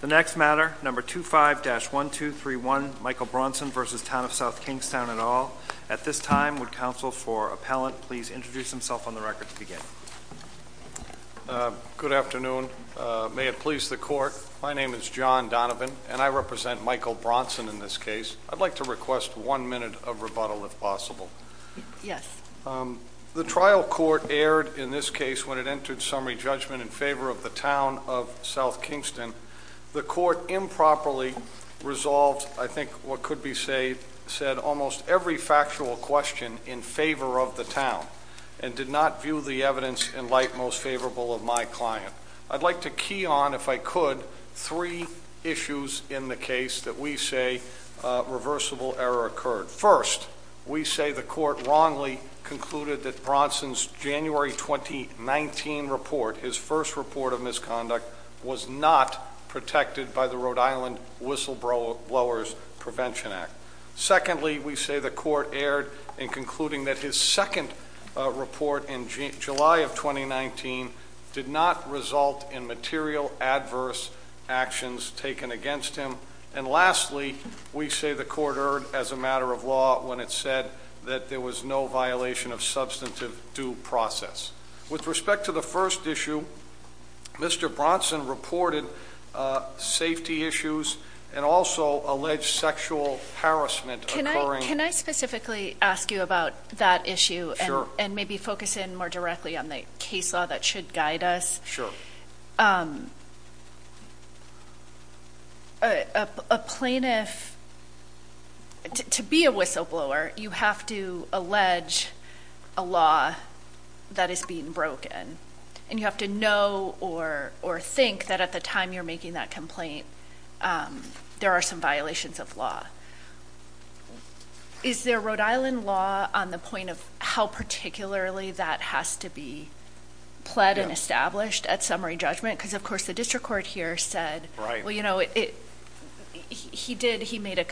The next matter, number 25-1231, Michael Bronson v. Town of South Kingstown et al. At this time, would counsel for appellant please introduce himself on the record to begin. Good afternoon. May it please the court, my name is John Donovan and I represent Michael Bronson in this case. I'd like to request one minute of rebuttal if possible. Yes. The trial court erred in this case when it entered summary judgment in favor of the Town of South Kingston. The court improperly resolved, I think what could be said, almost every factual question in favor of the Town and did not view the evidence in light most favorable of my client. I'd like to key on, if I could, three issues in the case that we say reversible error occurred. First, we say the court wrongly concluded that Bronson's January 2019 report, his first report of misconduct, was not protected by the Rhode Island Whistleblowers Prevention Act. Secondly, we say the court erred in concluding that his second report in July of 2019 did not result in material adverse actions taken against him. And lastly, we say the court erred as a matter of law when it said that there was no violation of substantive due process. With respect to the first issue, Mr. Bronson reported safety issues and also alleged sexual harassment occurring. Can I specifically ask you about that issue and maybe focus in more directly on the case law that should guide us? Sure. So, a plaintiff, to be a whistleblower, you have to allege a law that is being broken. And you have to know or think that at the time you're making that complaint, there are some violations of law. Is there Rhode Island law on the point of how particularly that has to be pled and established at summary judgment? Because, of course, the district court here said, well, you know, he did, he made a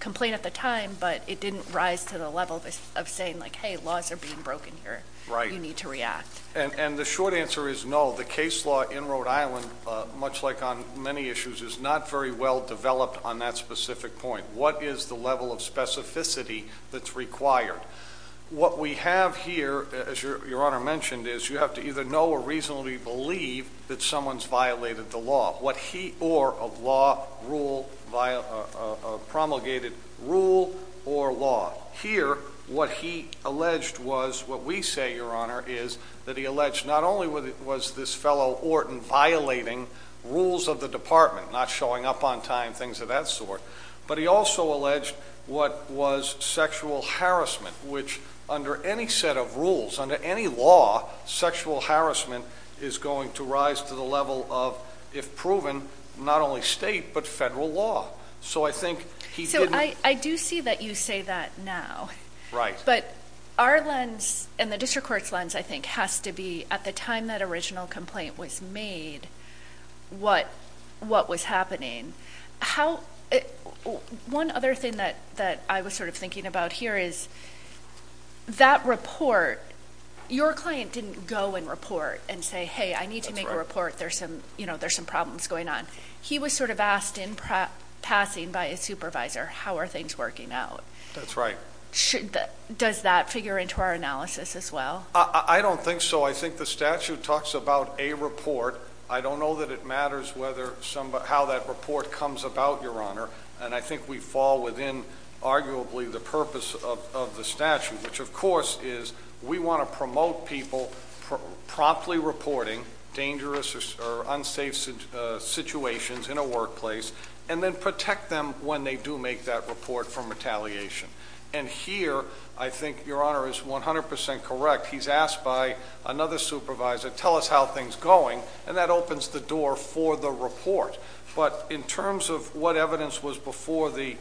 complaint at the time, but it didn't rise to the level of saying, like, hey, laws are being broken here. You need to react. And the short answer is no. The case law in Rhode Island, much like on many issues, is not very well developed on that specific point. What is the level of specificity that's required? What we have here, as Your Honor mentioned, is you have to either know or reasonably believe that someone's violated the law. What he or a law rule promulgated rule or law. Here, what he alleged was, what we say, Your Honor, is that he alleged not only was this fellow Orton violating rules of the department, not showing up on time, things of that sort, but he also alleged what was sexual harassment, which under any set of rules, under any law, sexual harassment is going to rise to the level of, if proven, not only state but federal law. So I do see that you say that now. But our lens and the district court's lens, I think, has to be at the time that original complaint was made, what was happening. One other thing that I was sort of thinking about here is that report, your client didn't go and report and say, hey, I need to make a report. There's some problems going on. He was sort of asked in passing by his supervisor, how are things working out? That's right. Does that figure into our analysis as well? I don't think so. I think the statute talks about a report. I don't know that it matters how that report comes about, Your Honor. And I think we fall within, arguably, the purpose of the statute, which, of course, is we want to promote people promptly reporting dangerous or unsafe situations in a workplace, and then protect them when they do make that report from retaliation. And here, I think Your Honor is 100% correct. He's asked by another supervisor, tell us how things are going, and that opens the door for the report. But in terms of what evidence was before the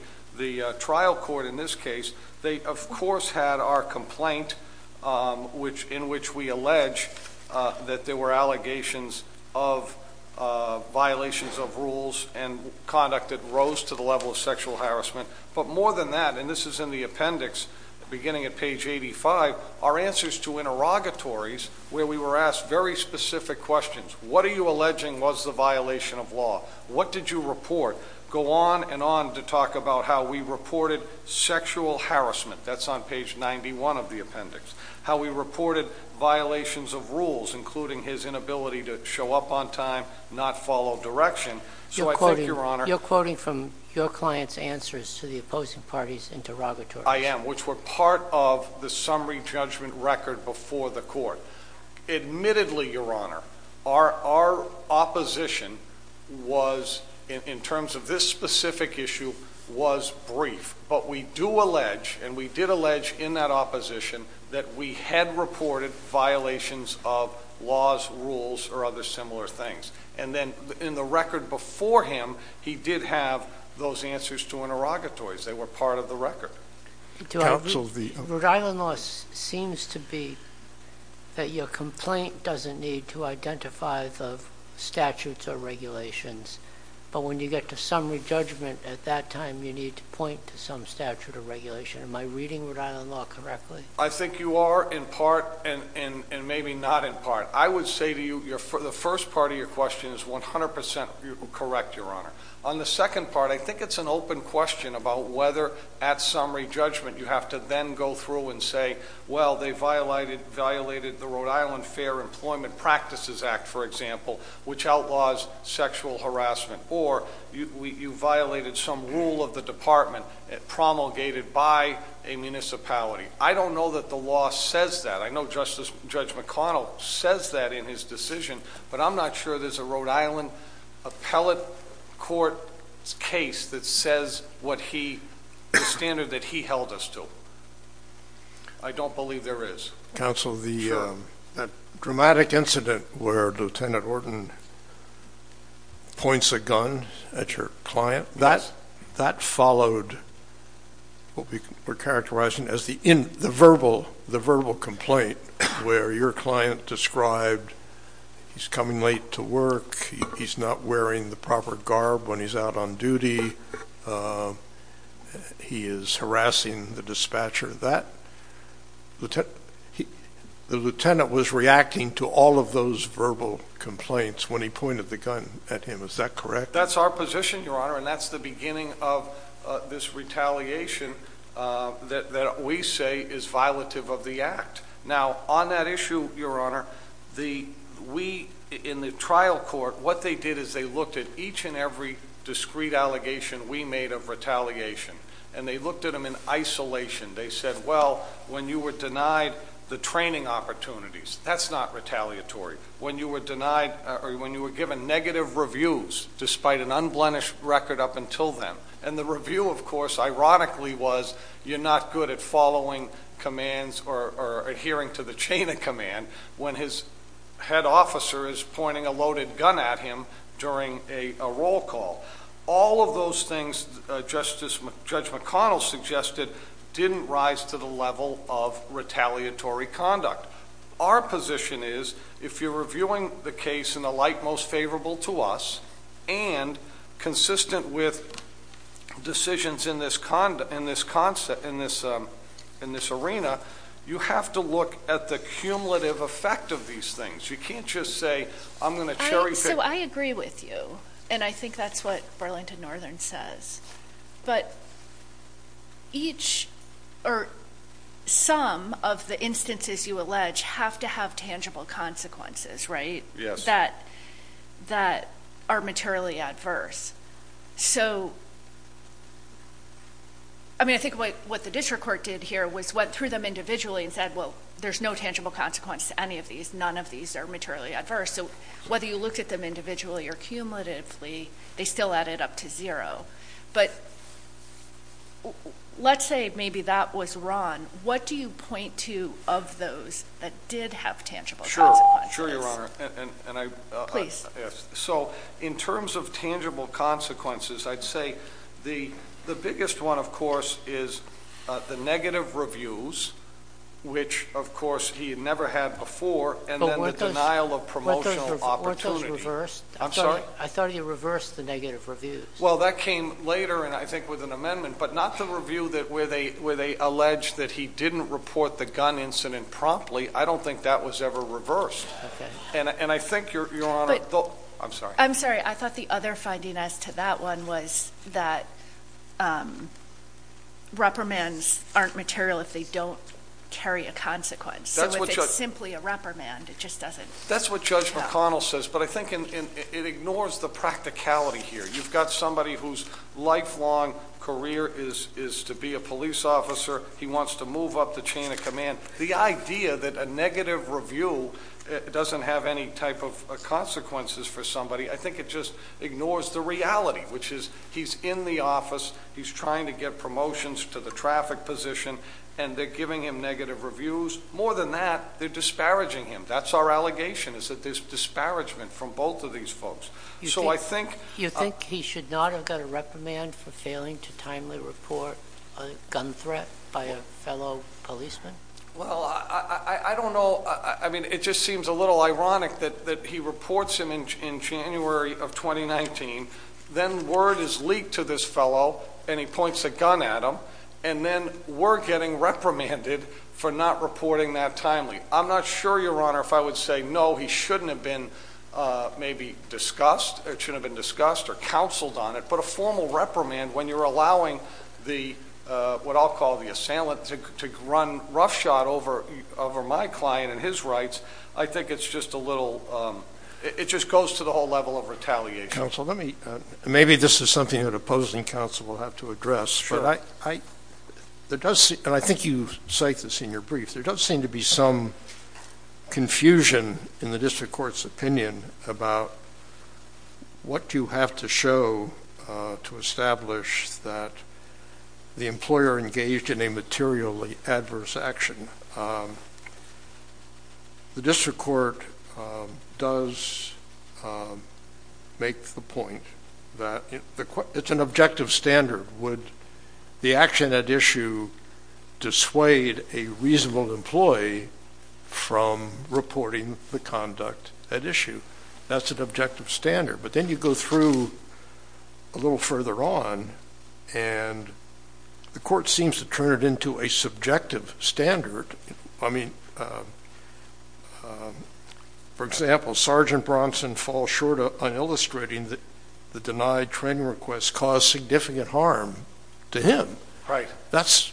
trial court in this case, they, of course, had our complaint in which we allege that there were allegations of violations of rules and conduct that rose to the level of sexual harassment. But more than that, and this is in the appendix beginning at page 85, are answers to interrogatories where we were asked very specific questions. What are you alleging was the violation of law? What did you report? Go on and on to talk about how we reported sexual harassment. That's on page 91 of the appendix. How we reported violations of rules, including his inability to show up on time, not follow direction. So I think, Your Honor— You're quoting from your client's answers to the opposing party's interrogatories. I am, which were part of the summary judgment record before the court. Admittedly, Your Honor, our opposition was, in terms of this specific issue, was brief. But we do allege, and we did allege in that opposition, that we had reported violations of laws, rules, or other similar things. And then in the record before him, he did have those answers to interrogatories. They were part of the record. Rhode Island law seems to be that your complaint doesn't need to identify the statutes or regulations. But when you get to summary judgment at that time, you need to point to some statute or regulation. Am I reading Rhode Island law correctly? I think you are, in part, and maybe not in part. I would say to you, the first part of your question is 100% correct, Your Honor. On the second part, I think it's an open question about whether at summary judgment you have to then go through and say, well, they violated the Rhode Island Fair Employment Practices Act, for example, which outlaws sexual harassment, or you violated some rule of the department promulgated by a municipality. I don't know that the law says that. I know Judge McConnell says that in his decision, but I'm not sure there's a Rhode Island appellate court case that says the standard that he held us to. I don't believe there is. Counsel, the dramatic incident where Lieutenant Orton points a gun at your client, that followed what we're characterizing as the verbal complaint where your client described he's coming late to work, he's not wearing the proper garb when he's out on duty, he is harassing the dispatcher. The lieutenant was reacting to all of those verbal complaints when he pointed the gun at him. Is that correct? That's our position, Your Honor, and that's the beginning of this retaliation that we say is violative of the act. Now, on that issue, Your Honor, we in the trial court, what they did is they looked at each and every discrete allegation we made of retaliation, and they looked at them in isolation. They said, well, when you were denied the training opportunities, that's not retaliatory. When you were denied or when you were given negative reviews, despite an unblemished record up until then. And the review, of course, ironically was you're not good at following commands or adhering to the chain of command when his head officer is pointing a loaded gun at him during a roll call. All of those things Judge McConnell suggested didn't rise to the level of retaliatory conduct. Our position is, if you're reviewing the case in a light most favorable to us, and consistent with decisions in this arena, you have to look at the cumulative effect of these things. You can't just say, I'm going to cherry pick. So I agree with you, and I think that's what Burlington Northern says. But each or some of the instances you allege have to have tangible consequences, right? Yes. That are materially adverse. So, I mean, I think what the district court did here was went through them individually and said, well, there's no tangible consequence to any of these. None of these are materially adverse. So whether you looked at them individually or cumulatively, they still added up to zero. But let's say maybe that was wrong. What do you point to of those that did have tangible consequences? Sure, Your Honor. Please. So in terms of tangible consequences, I'd say the biggest one, of course, is the negative reviews, which, of course, he had never had before, and then the denial of promotional opportunity. Weren't those reversed? I'm sorry? I thought you reversed the negative reviews. Well, that came later, and I think with an amendment. But not the review where they allege that he didn't report the gun incident promptly. I don't think that was ever reversed. Okay. And I think, Your Honor, I'm sorry. I thought the other finding as to that one was that reprimands aren't material if they don't carry a consequence. So if it's simply a reprimand, it just doesn't count. That's what Judge McConnell says, but I think it ignores the practicality here. You've got somebody whose lifelong career is to be a police officer. He wants to move up the chain of command. The idea that a negative review doesn't have any type of consequences for somebody, I think it just ignores the reality, which is he's in the office, he's trying to get promotions to the traffic position, and they're giving him negative reviews. More than that, they're disparaging him. That's our allegation, is that there's disparagement from both of these folks. So I think- Well, I don't know. I mean, it just seems a little ironic that he reports him in January of 2019, then word is leaked to this fellow, and he points a gun at him, and then we're getting reprimanded for not reporting that timely. I'm not sure, Your Honor, if I would say, no, he shouldn't have been maybe discussed, or it shouldn't have been discussed or counseled on it, but a formal reprimand when you're allowing what I'll call the assailant to run roughshod over my client and his rights, I think it's just a little-it just goes to the whole level of retaliation. Counsel, maybe this is something that opposing counsel will have to address. And I think you cite this in your brief. There does seem to be some confusion in the district court's opinion about what you have to show to establish that the employer engaged in a materially adverse action. The district court does make the point that it's an objective standard. Would the action at issue dissuade a reasonable employee from reporting the conduct at issue? That's an objective standard. But then you go through a little further on, and the court seems to turn it into a subjective standard. I mean, for example, Sergeant Bronson falls short on illustrating that the denied training request caused significant harm to him. Right. That's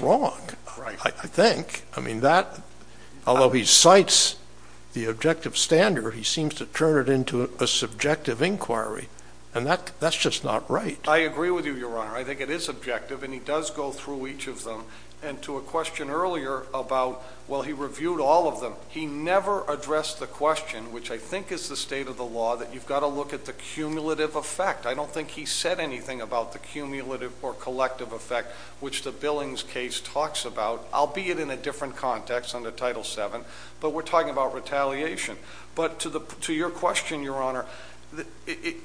wrong, I think. I mean, that-although he cites the objective standard, he seems to turn it into a subjective inquiry, and that's just not right. I agree with you, Your Honor. I think it is objective, and he does go through each of them. And to a question earlier about, well, he reviewed all of them. He never addressed the question, which I think is the state of the law, that you've got to look at the cumulative effect. I don't think he said anything about the cumulative or collective effect, which the Billings case talks about, albeit in a different context under Title VII. But we're talking about retaliation. But to your question, Your Honor,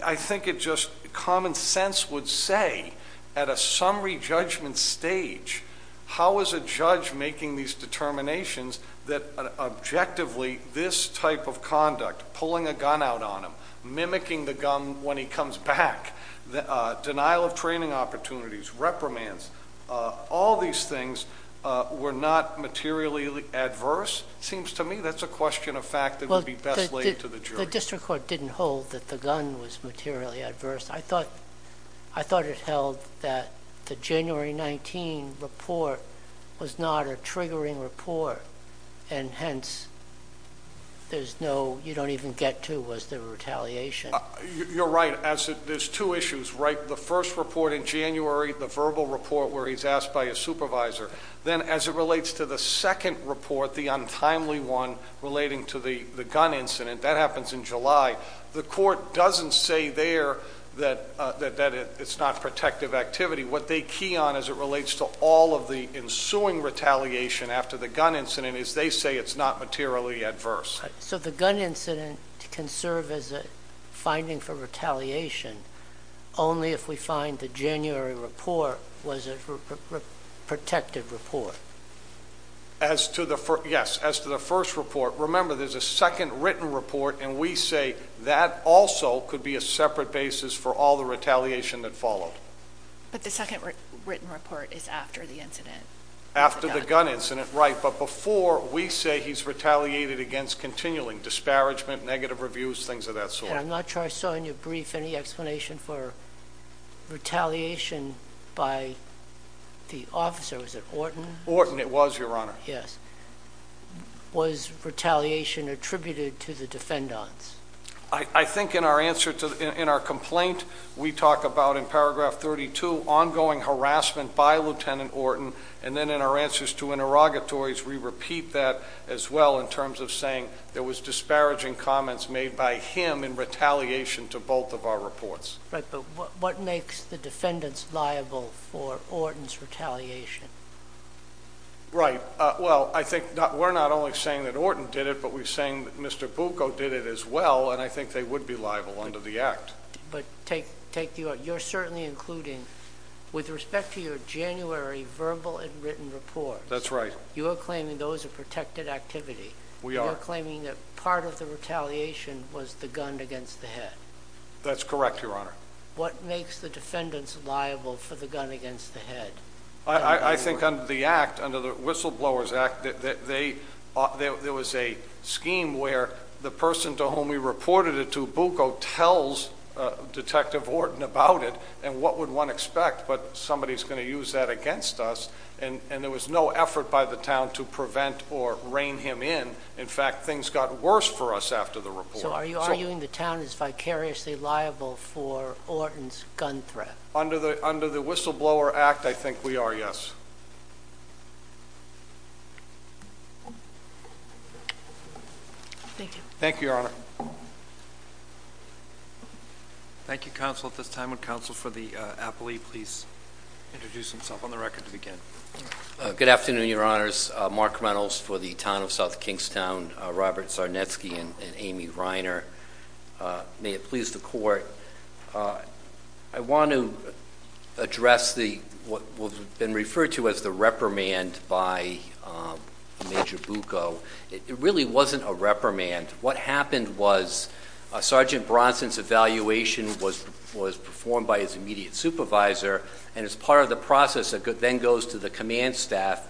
I think it just common sense would say at a summary judgment stage, how is a judge making these determinations that objectively this type of conduct, pulling a gun out on him, mimicking the gun when he comes back, denial of training opportunities, reprimands, all these things were not materially adverse? It seems to me that's a question of fact that would be best laid to the jury. Well, the district court didn't hold that the gun was materially adverse. I thought it held that the January 19 report was not a triggering report, and hence there's no-you don't even get to, was the retaliation. You're right. There's two issues, right? The first report in January, the verbal report where he's asked by his supervisor. Then as it relates to the second report, the untimely one relating to the gun incident, that happens in July. The court doesn't say there that it's not protective activity. What they key on as it relates to all of the ensuing retaliation after the gun incident is they say it's not materially adverse. Right. So the gun incident can serve as a finding for retaliation only if we find the January report was a protected report. Yes. As to the first report, remember there's a second written report, and we say that also could be a separate basis for all the retaliation that followed. But the second written report is after the incident. After the gun incident, right. But before we say he's retaliated against continuing disparagement, negative reviews, things of that sort. And I'm not sure I saw in your brief any explanation for retaliation by the officer. Was it Orton? Orton it was, Your Honor. Yes. Was retaliation attributed to the defendants? I think in our answer to in our complaint, we talk about in paragraph 32 ongoing harassment by Lieutenant Orton. And then in our answers to interrogatories, we repeat that as well in terms of saying there was disparaging comments made by him in retaliation to both of our reports. Right. But what makes the defendants liable for Orton's retaliation? Right. Well, I think we're not only saying that Orton did it, but we're saying that Mr. Bucco did it as well. And I think they would be liable under the act. But take you're certainly including with respect to your January verbal and written report. That's right. You are claiming those are protected activity. We are claiming that part of the retaliation was the gun against the head. That's correct, Your Honor. What makes the defendants liable for the gun against the head? I think under the act, under the Whistleblowers Act, there was a scheme where the person to whom we reported it to, Bucco, tells Detective Orton about it. And what would one expect? But somebody's going to use that against us. And there was no effort by the town to prevent or rein him in. In fact, things got worse for us after the report. So are you arguing the town is vicariously liable for Orton's gun threat? Under the Whistleblower Act, I think we are, yes. Thank you. Thank you, Your Honor. Thank you, counsel. At this time, would counsel for the appellee please introduce himself on the record to begin? Good afternoon, Your Honors. Mark Reynolds for the town of South Kingstown. Robert Czarnecki and Amy Reiner. May it please the Court. I want to address what has been referred to as the reprimand by Major Bucco. It really wasn't a reprimand. What happened was Sergeant Bronson's evaluation was performed by his immediate supervisor, and it's part of the process that then goes to the command staff,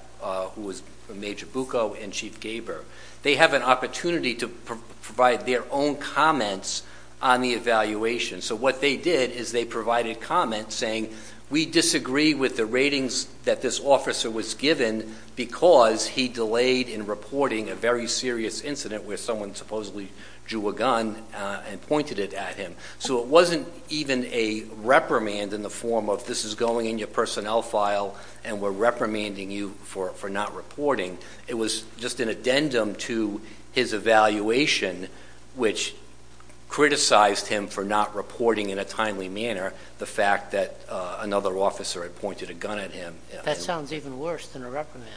who was Major Bucco and Chief Gaber. They have an opportunity to provide their own comments on the evaluation. So what they did is they provided comments saying, we disagree with the ratings that this officer was given because he delayed in reporting a very serious incident where someone supposedly drew a gun and pointed it at him. So it wasn't even a reprimand in the form of this is going in your personnel file and we're reprimanding you for not reporting. It was just an addendum to his evaluation, which criticized him for not reporting in a timely manner the fact that another officer had pointed a gun at him. That sounds even worse than a reprimand.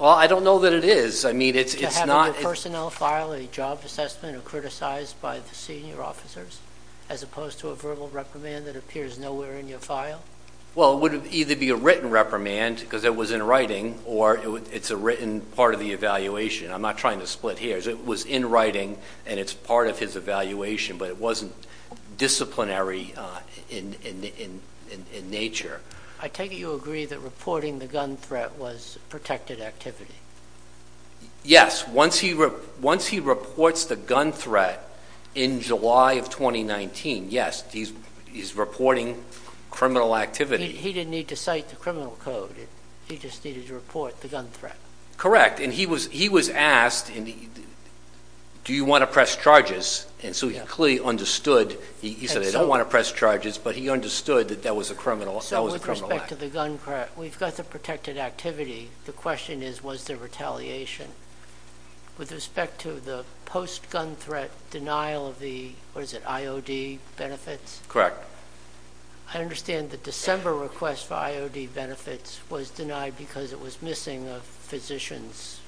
Well, I don't know that it is. I mean, it's not. To have in your personnel file a job assessment or criticized by the senior officers as opposed to a verbal reprimand that appears nowhere in your file? Well, it would either be a written reprimand because it was in writing or it's a written part of the evaluation. I'm not trying to split hairs. It was in writing and it's part of his evaluation, but it wasn't disciplinary in nature. I take it you agree that reporting the gun threat was protected activity. Yes. Once he reports the gun threat in July of 2019, yes, he's reporting criminal activity. He didn't need to cite the criminal code. He just needed to report the gun threat. Correct. And he was asked, do you want to press charges? And so he clearly understood. He said I don't want to press charges, but he understood that that was a criminal act. So with respect to the gun threat, we've got the protected activity. The question is, was there retaliation? With respect to the post-gun threat denial of the, what is it, IOD benefits? Correct. I understand the December request for IOD benefits was denied because it was missing a physician's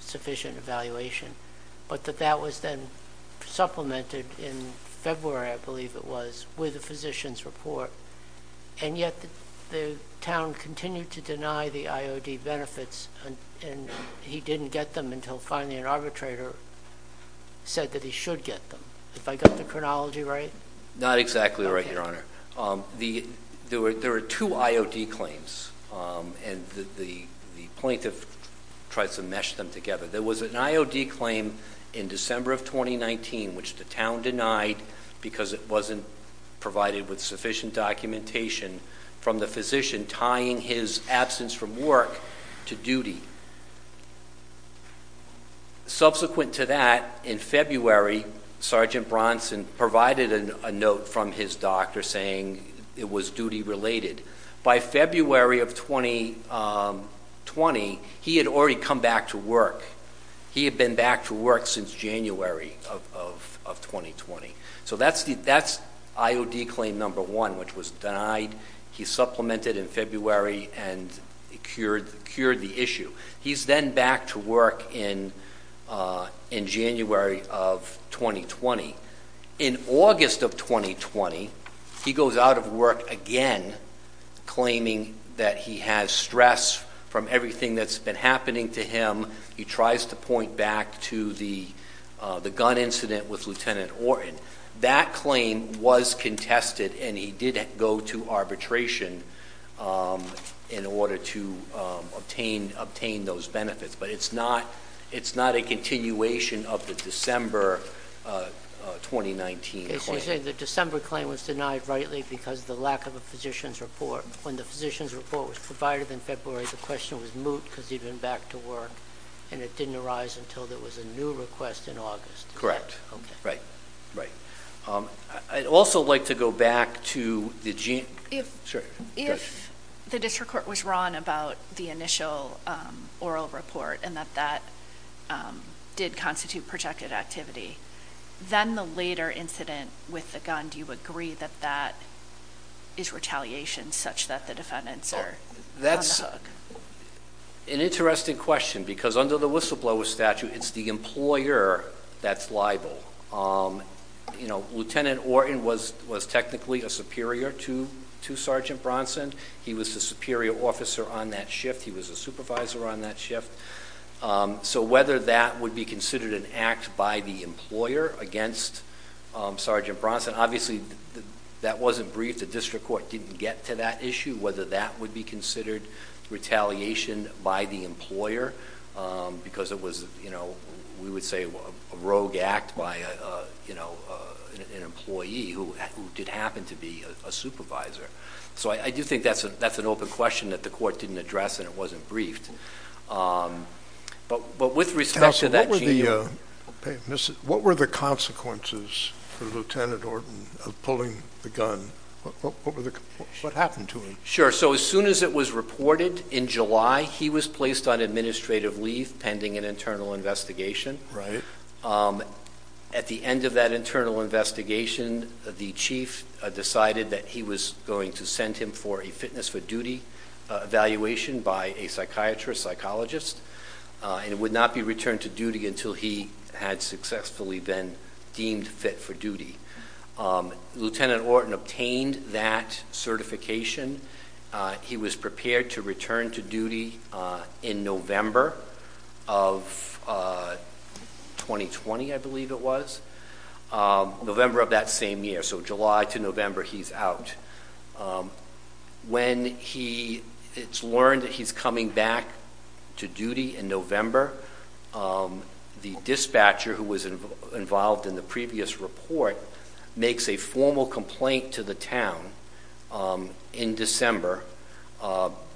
sufficient evaluation, but that that was then supplemented in February, I believe it was, with a physician's report, and yet the town continued to deny the IOD benefits, and he didn't get them until finally an arbitrator said that he should get them. Have I got the chronology right? Not exactly right, Your Honor. There were two IOD claims, and the plaintiff tried to mesh them together. There was an IOD claim in December of 2019 which the town denied because it wasn't provided with sufficient documentation from the physician tying his absence from work to duty. Subsequent to that, in February, Sergeant Bronson provided a note from his doctor saying it was duty-related. By February of 2020, he had already come back to work. He had been back to work since January of 2020. So that's IOD claim number one, which was denied. He supplemented in February and cured the issue. He's then back to work in January of 2020. In August of 2020, he goes out of work again claiming that he has stress from everything that's been happening to him. He tries to point back to the gun incident with Lieutenant Orton. That claim was contested, and he did go to arbitration in order to obtain those benefits, but it's not a continuation of the December 2019 claim. So you're saying the December claim was denied rightly because of the lack of a physician's report. When the physician's report was provided in February, the question was moot because he'd been back to work, and it didn't arise until there was a new request in August. Correct. Okay. Right, right. I'd also like to go back to the gene. If the district court was wrong about the initial oral report and that that did constitute projected activity, then the later incident with the gun, do you agree that that is retaliation such that the defendants are on the hook? An interesting question because under the whistleblower statute, it's the employer that's liable. Lieutenant Orton was technically a superior to Sergeant Bronson. He was the superior officer on that shift. He was a supervisor on that shift. So whether that would be considered an act by the employer against Sergeant Bronson, obviously that wasn't briefed. The district court didn't get to that issue, whether that would be considered retaliation by the employer because it was, we would say, a rogue act by an employee who did happen to be a supervisor. So I do think that's an open question that the court didn't address and it wasn't briefed. But with respect to that gene, what were the consequences for Lieutenant Orton of pulling the gun? What happened to him? Sure, so as soon as it was reported in July, he was placed on administrative leave pending an internal investigation. At the end of that internal investigation, the chief decided that he was going to send him for a fitness for duty evaluation by a psychiatrist, psychologist, and would not be returned to duty until he had successfully been deemed fit for duty. Lieutenant Orton obtained that certification. He was prepared to return to duty in November of 2020, I believe it was, November of that same year. So July to November, he's out. When it's learned that he's coming back to duty in November, the dispatcher who was involved in the previous report makes a formal complaint to the town in December,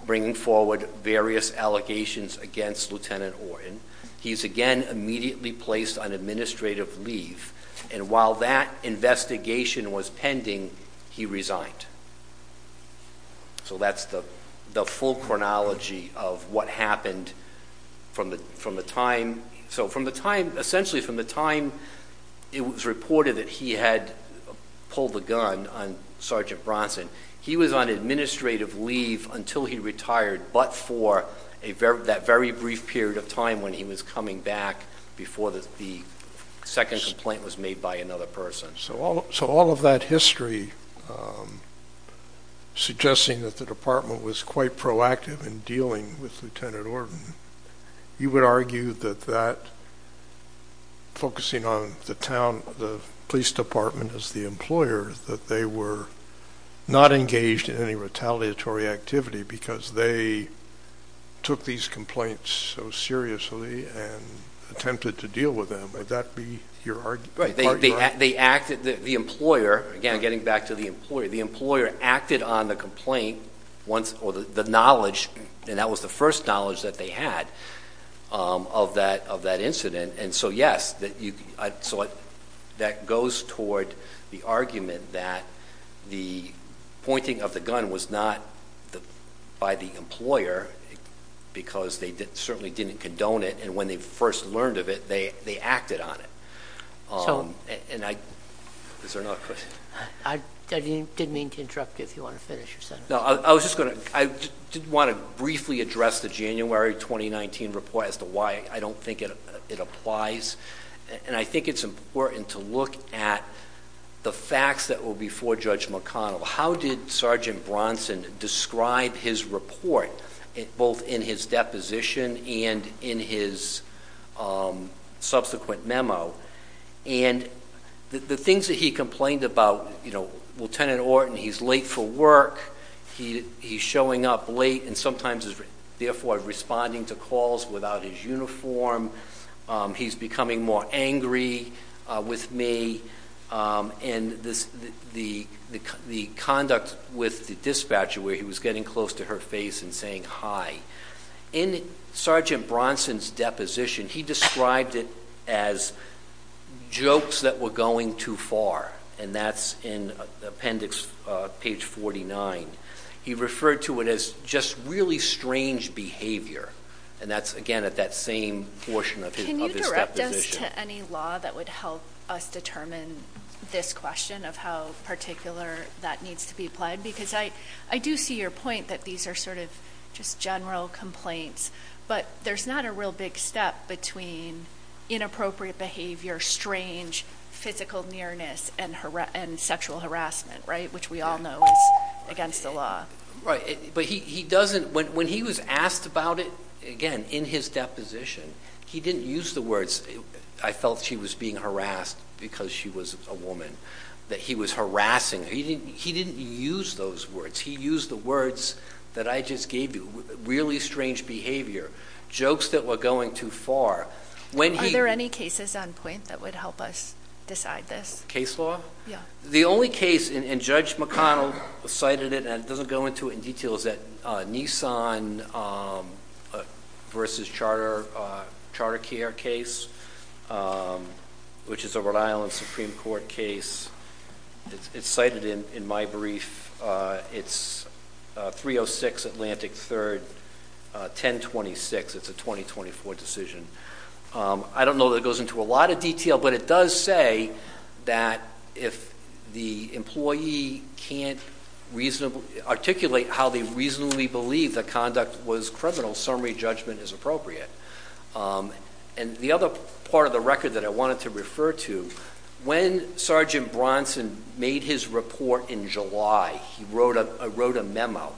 bringing forward various allegations against Lieutenant Orton. He's again immediately placed on administrative leave, and while that investigation was pending, he resigned. So that's the full chronology of what happened from the time. So from the time, essentially from the time it was reported that he had pulled the gun on Sergeant Bronson, he was on administrative leave until he retired, but for that very brief period of time when he was coming back before the second complaint was made by another person. So all of that history, suggesting that the department was quite proactive in dealing with Lieutenant Orton, you would argue that that, focusing on the town, the police department as the employer, that they were not engaged in any retaliatory activity because they took these complaints so seriously and attempted to deal with them. Would that be your argument? They acted, the employer, again getting back to the employer, the employer acted on the complaint once, or the knowledge, and that was the first knowledge that they had of that incident, and so yes, that goes toward the argument that the pointing of the gun was not by the employer because they certainly didn't condone it, and when they first learned of it, they acted on it. And I, is there another question? I didn't mean to interrupt you if you want to finish. No, I was just going to, I did want to briefly address the January 2019 report as to why I don't think it applies, and I think it's important to look at the facts that were before Judge McConnell. How did Sergeant Bronson describe his report, both in his deposition and in his subsequent memo, and the things that he complained about, you know, Lieutenant Orton, he's late for work, he's showing up late and sometimes is therefore responding to calls without his uniform, he's becoming more angry with me, and the conduct with the dispatcher where he was getting close to her face and saying hi. In Sergeant Bronson's deposition, he described it as jokes that were going too far, and that's in appendix page 49. He referred to it as just really strange behavior, and that's, again, at that same portion of his deposition. Can you direct us to any law that would help us determine this question of how particular that needs to be applied? Because I do see your point that these are sort of just general complaints, but there's not a real big step between inappropriate behavior, strange physical nearness, and sexual harassment, right, which we all know is against the law. Right, but when he was asked about it, again, in his deposition, he didn't use the words, I felt she was being harassed because she was a woman, that he was harassing her. He didn't use those words. He used the words that I just gave you, really strange behavior, jokes that were going too far. Are there any cases on point that would help us decide this? Case law? Yeah. The only case, and Judge McConnell cited it and doesn't go into it in detail, is that Nissan versus Charter Care case, which is a Rhode Island Supreme Court case. It's cited in my brief. It's 306 Atlantic 3rd, 1026. It's a 2024 decision. I don't know that it goes into a lot of detail, but it does say that if the employee can't articulate how they reasonably believe the conduct was criminal, summary judgment is appropriate. And the other part of the record that I wanted to refer to, when Sergeant Bronson made his report in July, he wrote a memo.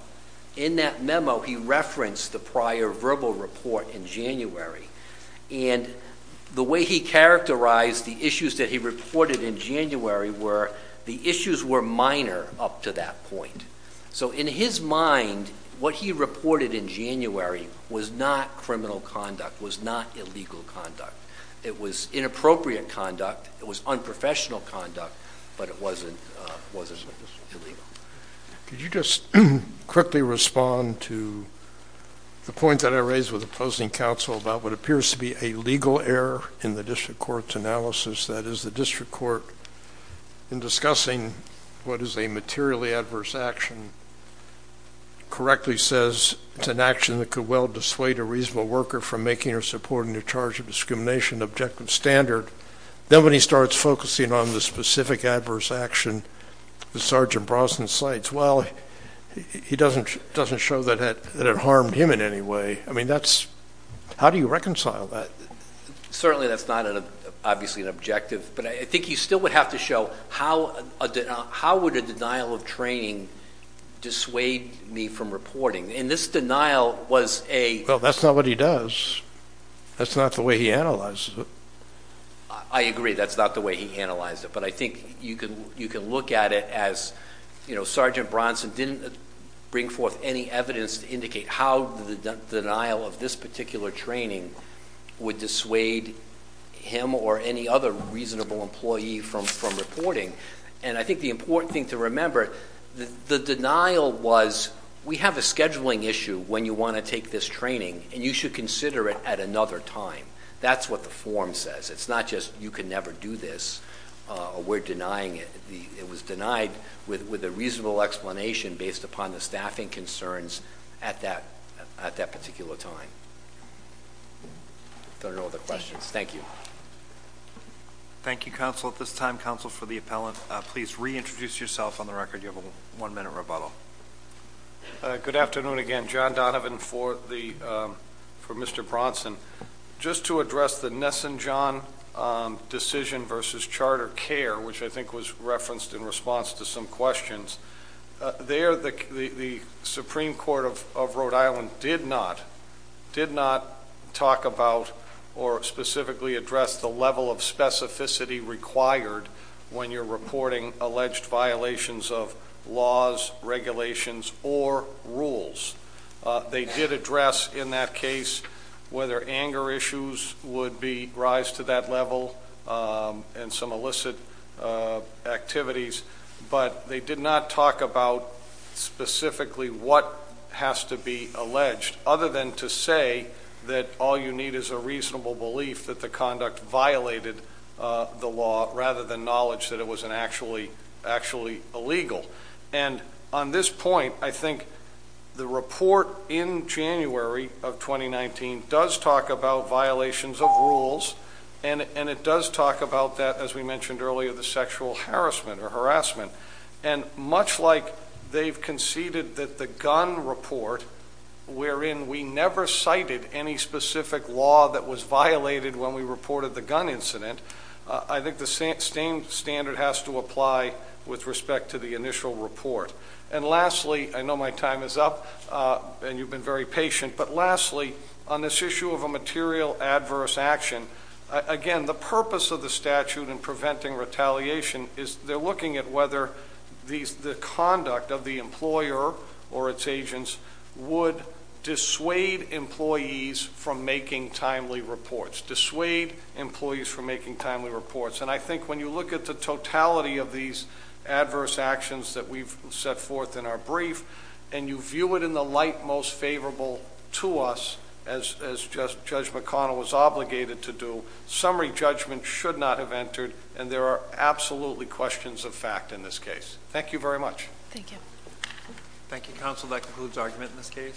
In that memo, he referenced the prior verbal report in January, and the way he characterized the issues that he reported in January were the issues were minor up to that point. So in his mind, what he reported in January was not criminal conduct, was not illegal conduct. It was inappropriate conduct. It was unprofessional conduct, but it wasn't illegal. Could you just quickly respond to the point that I raised with opposing counsel about what appears to be a legal error in the district court's analysis, that is the district court, in discussing what is a materially adverse action, correctly says it's an action that could well dissuade a reasonable worker from making or supporting their charge of discrimination objective standard. Then when he starts focusing on the specific adverse action that Sergeant Bronson cites, well, he doesn't show that it harmed him in any way. I mean, how do you reconcile that? Certainly that's not obviously an objective, but I think you still would have to show how would a denial of training dissuade me from reporting. And this denial was a – Well, that's not what he does. That's not the way he analyzes it. I agree that's not the way he analyzes it, but I think you can look at it as Sergeant Bronson didn't bring forth any evidence to indicate how the denial of this particular training would dissuade him or any other reasonable employee from reporting. And I think the important thing to remember, the denial was we have a scheduling issue when you want to take this training, and you should consider it at another time. That's what the form says. It's not just you can never do this or we're denying it. It was denied with a reasonable explanation based upon the staffing concerns at that particular time. If there are no other questions, thank you. Thank you, counsel. At this time, counsel, for the appellant, please reintroduce yourself on the record. You have a one-minute rebuttal. Good afternoon again. John Donovan for Mr. Bronson. Just to address the Nisenjan decision versus charter care, which I think was referenced in response to some questions, there the Supreme Court of Rhode Island did not talk about or specifically address the level of specificity required when you're reporting alleged violations of laws, regulations, or rules. They did address in that case whether anger issues would rise to that level and some illicit activities, but they did not talk about specifically what has to be alleged, other than to say that all you need is a reasonable belief that the conduct violated the law rather than knowledge that it was actually illegal. And on this point, I think the report in January of 2019 does talk about violations of rules, and it does talk about that, as we mentioned earlier, the sexual harassment or harassment. And much like they've conceded that the gun report, wherein we never cited any specific law that was violated when we reported the gun incident, I think the same standard has to apply with respect to the initial report. And lastly, I know my time is up, and you've been very patient, but lastly, on this issue of a material adverse action, again, the purpose of the statute in preventing retaliation is they're looking at whether the conduct of the employer or its agents would dissuade employees from making timely reports, dissuade employees from making timely reports. And I think when you look at the totality of these adverse actions that we've set forth in our brief, and you view it in the light most favorable to us, as Judge McConnell was obligated to do, summary judgment should not have entered, and there are absolutely questions of fact in this case. Thank you very much. Thank you. Thank you, counsel. That concludes argument in this case.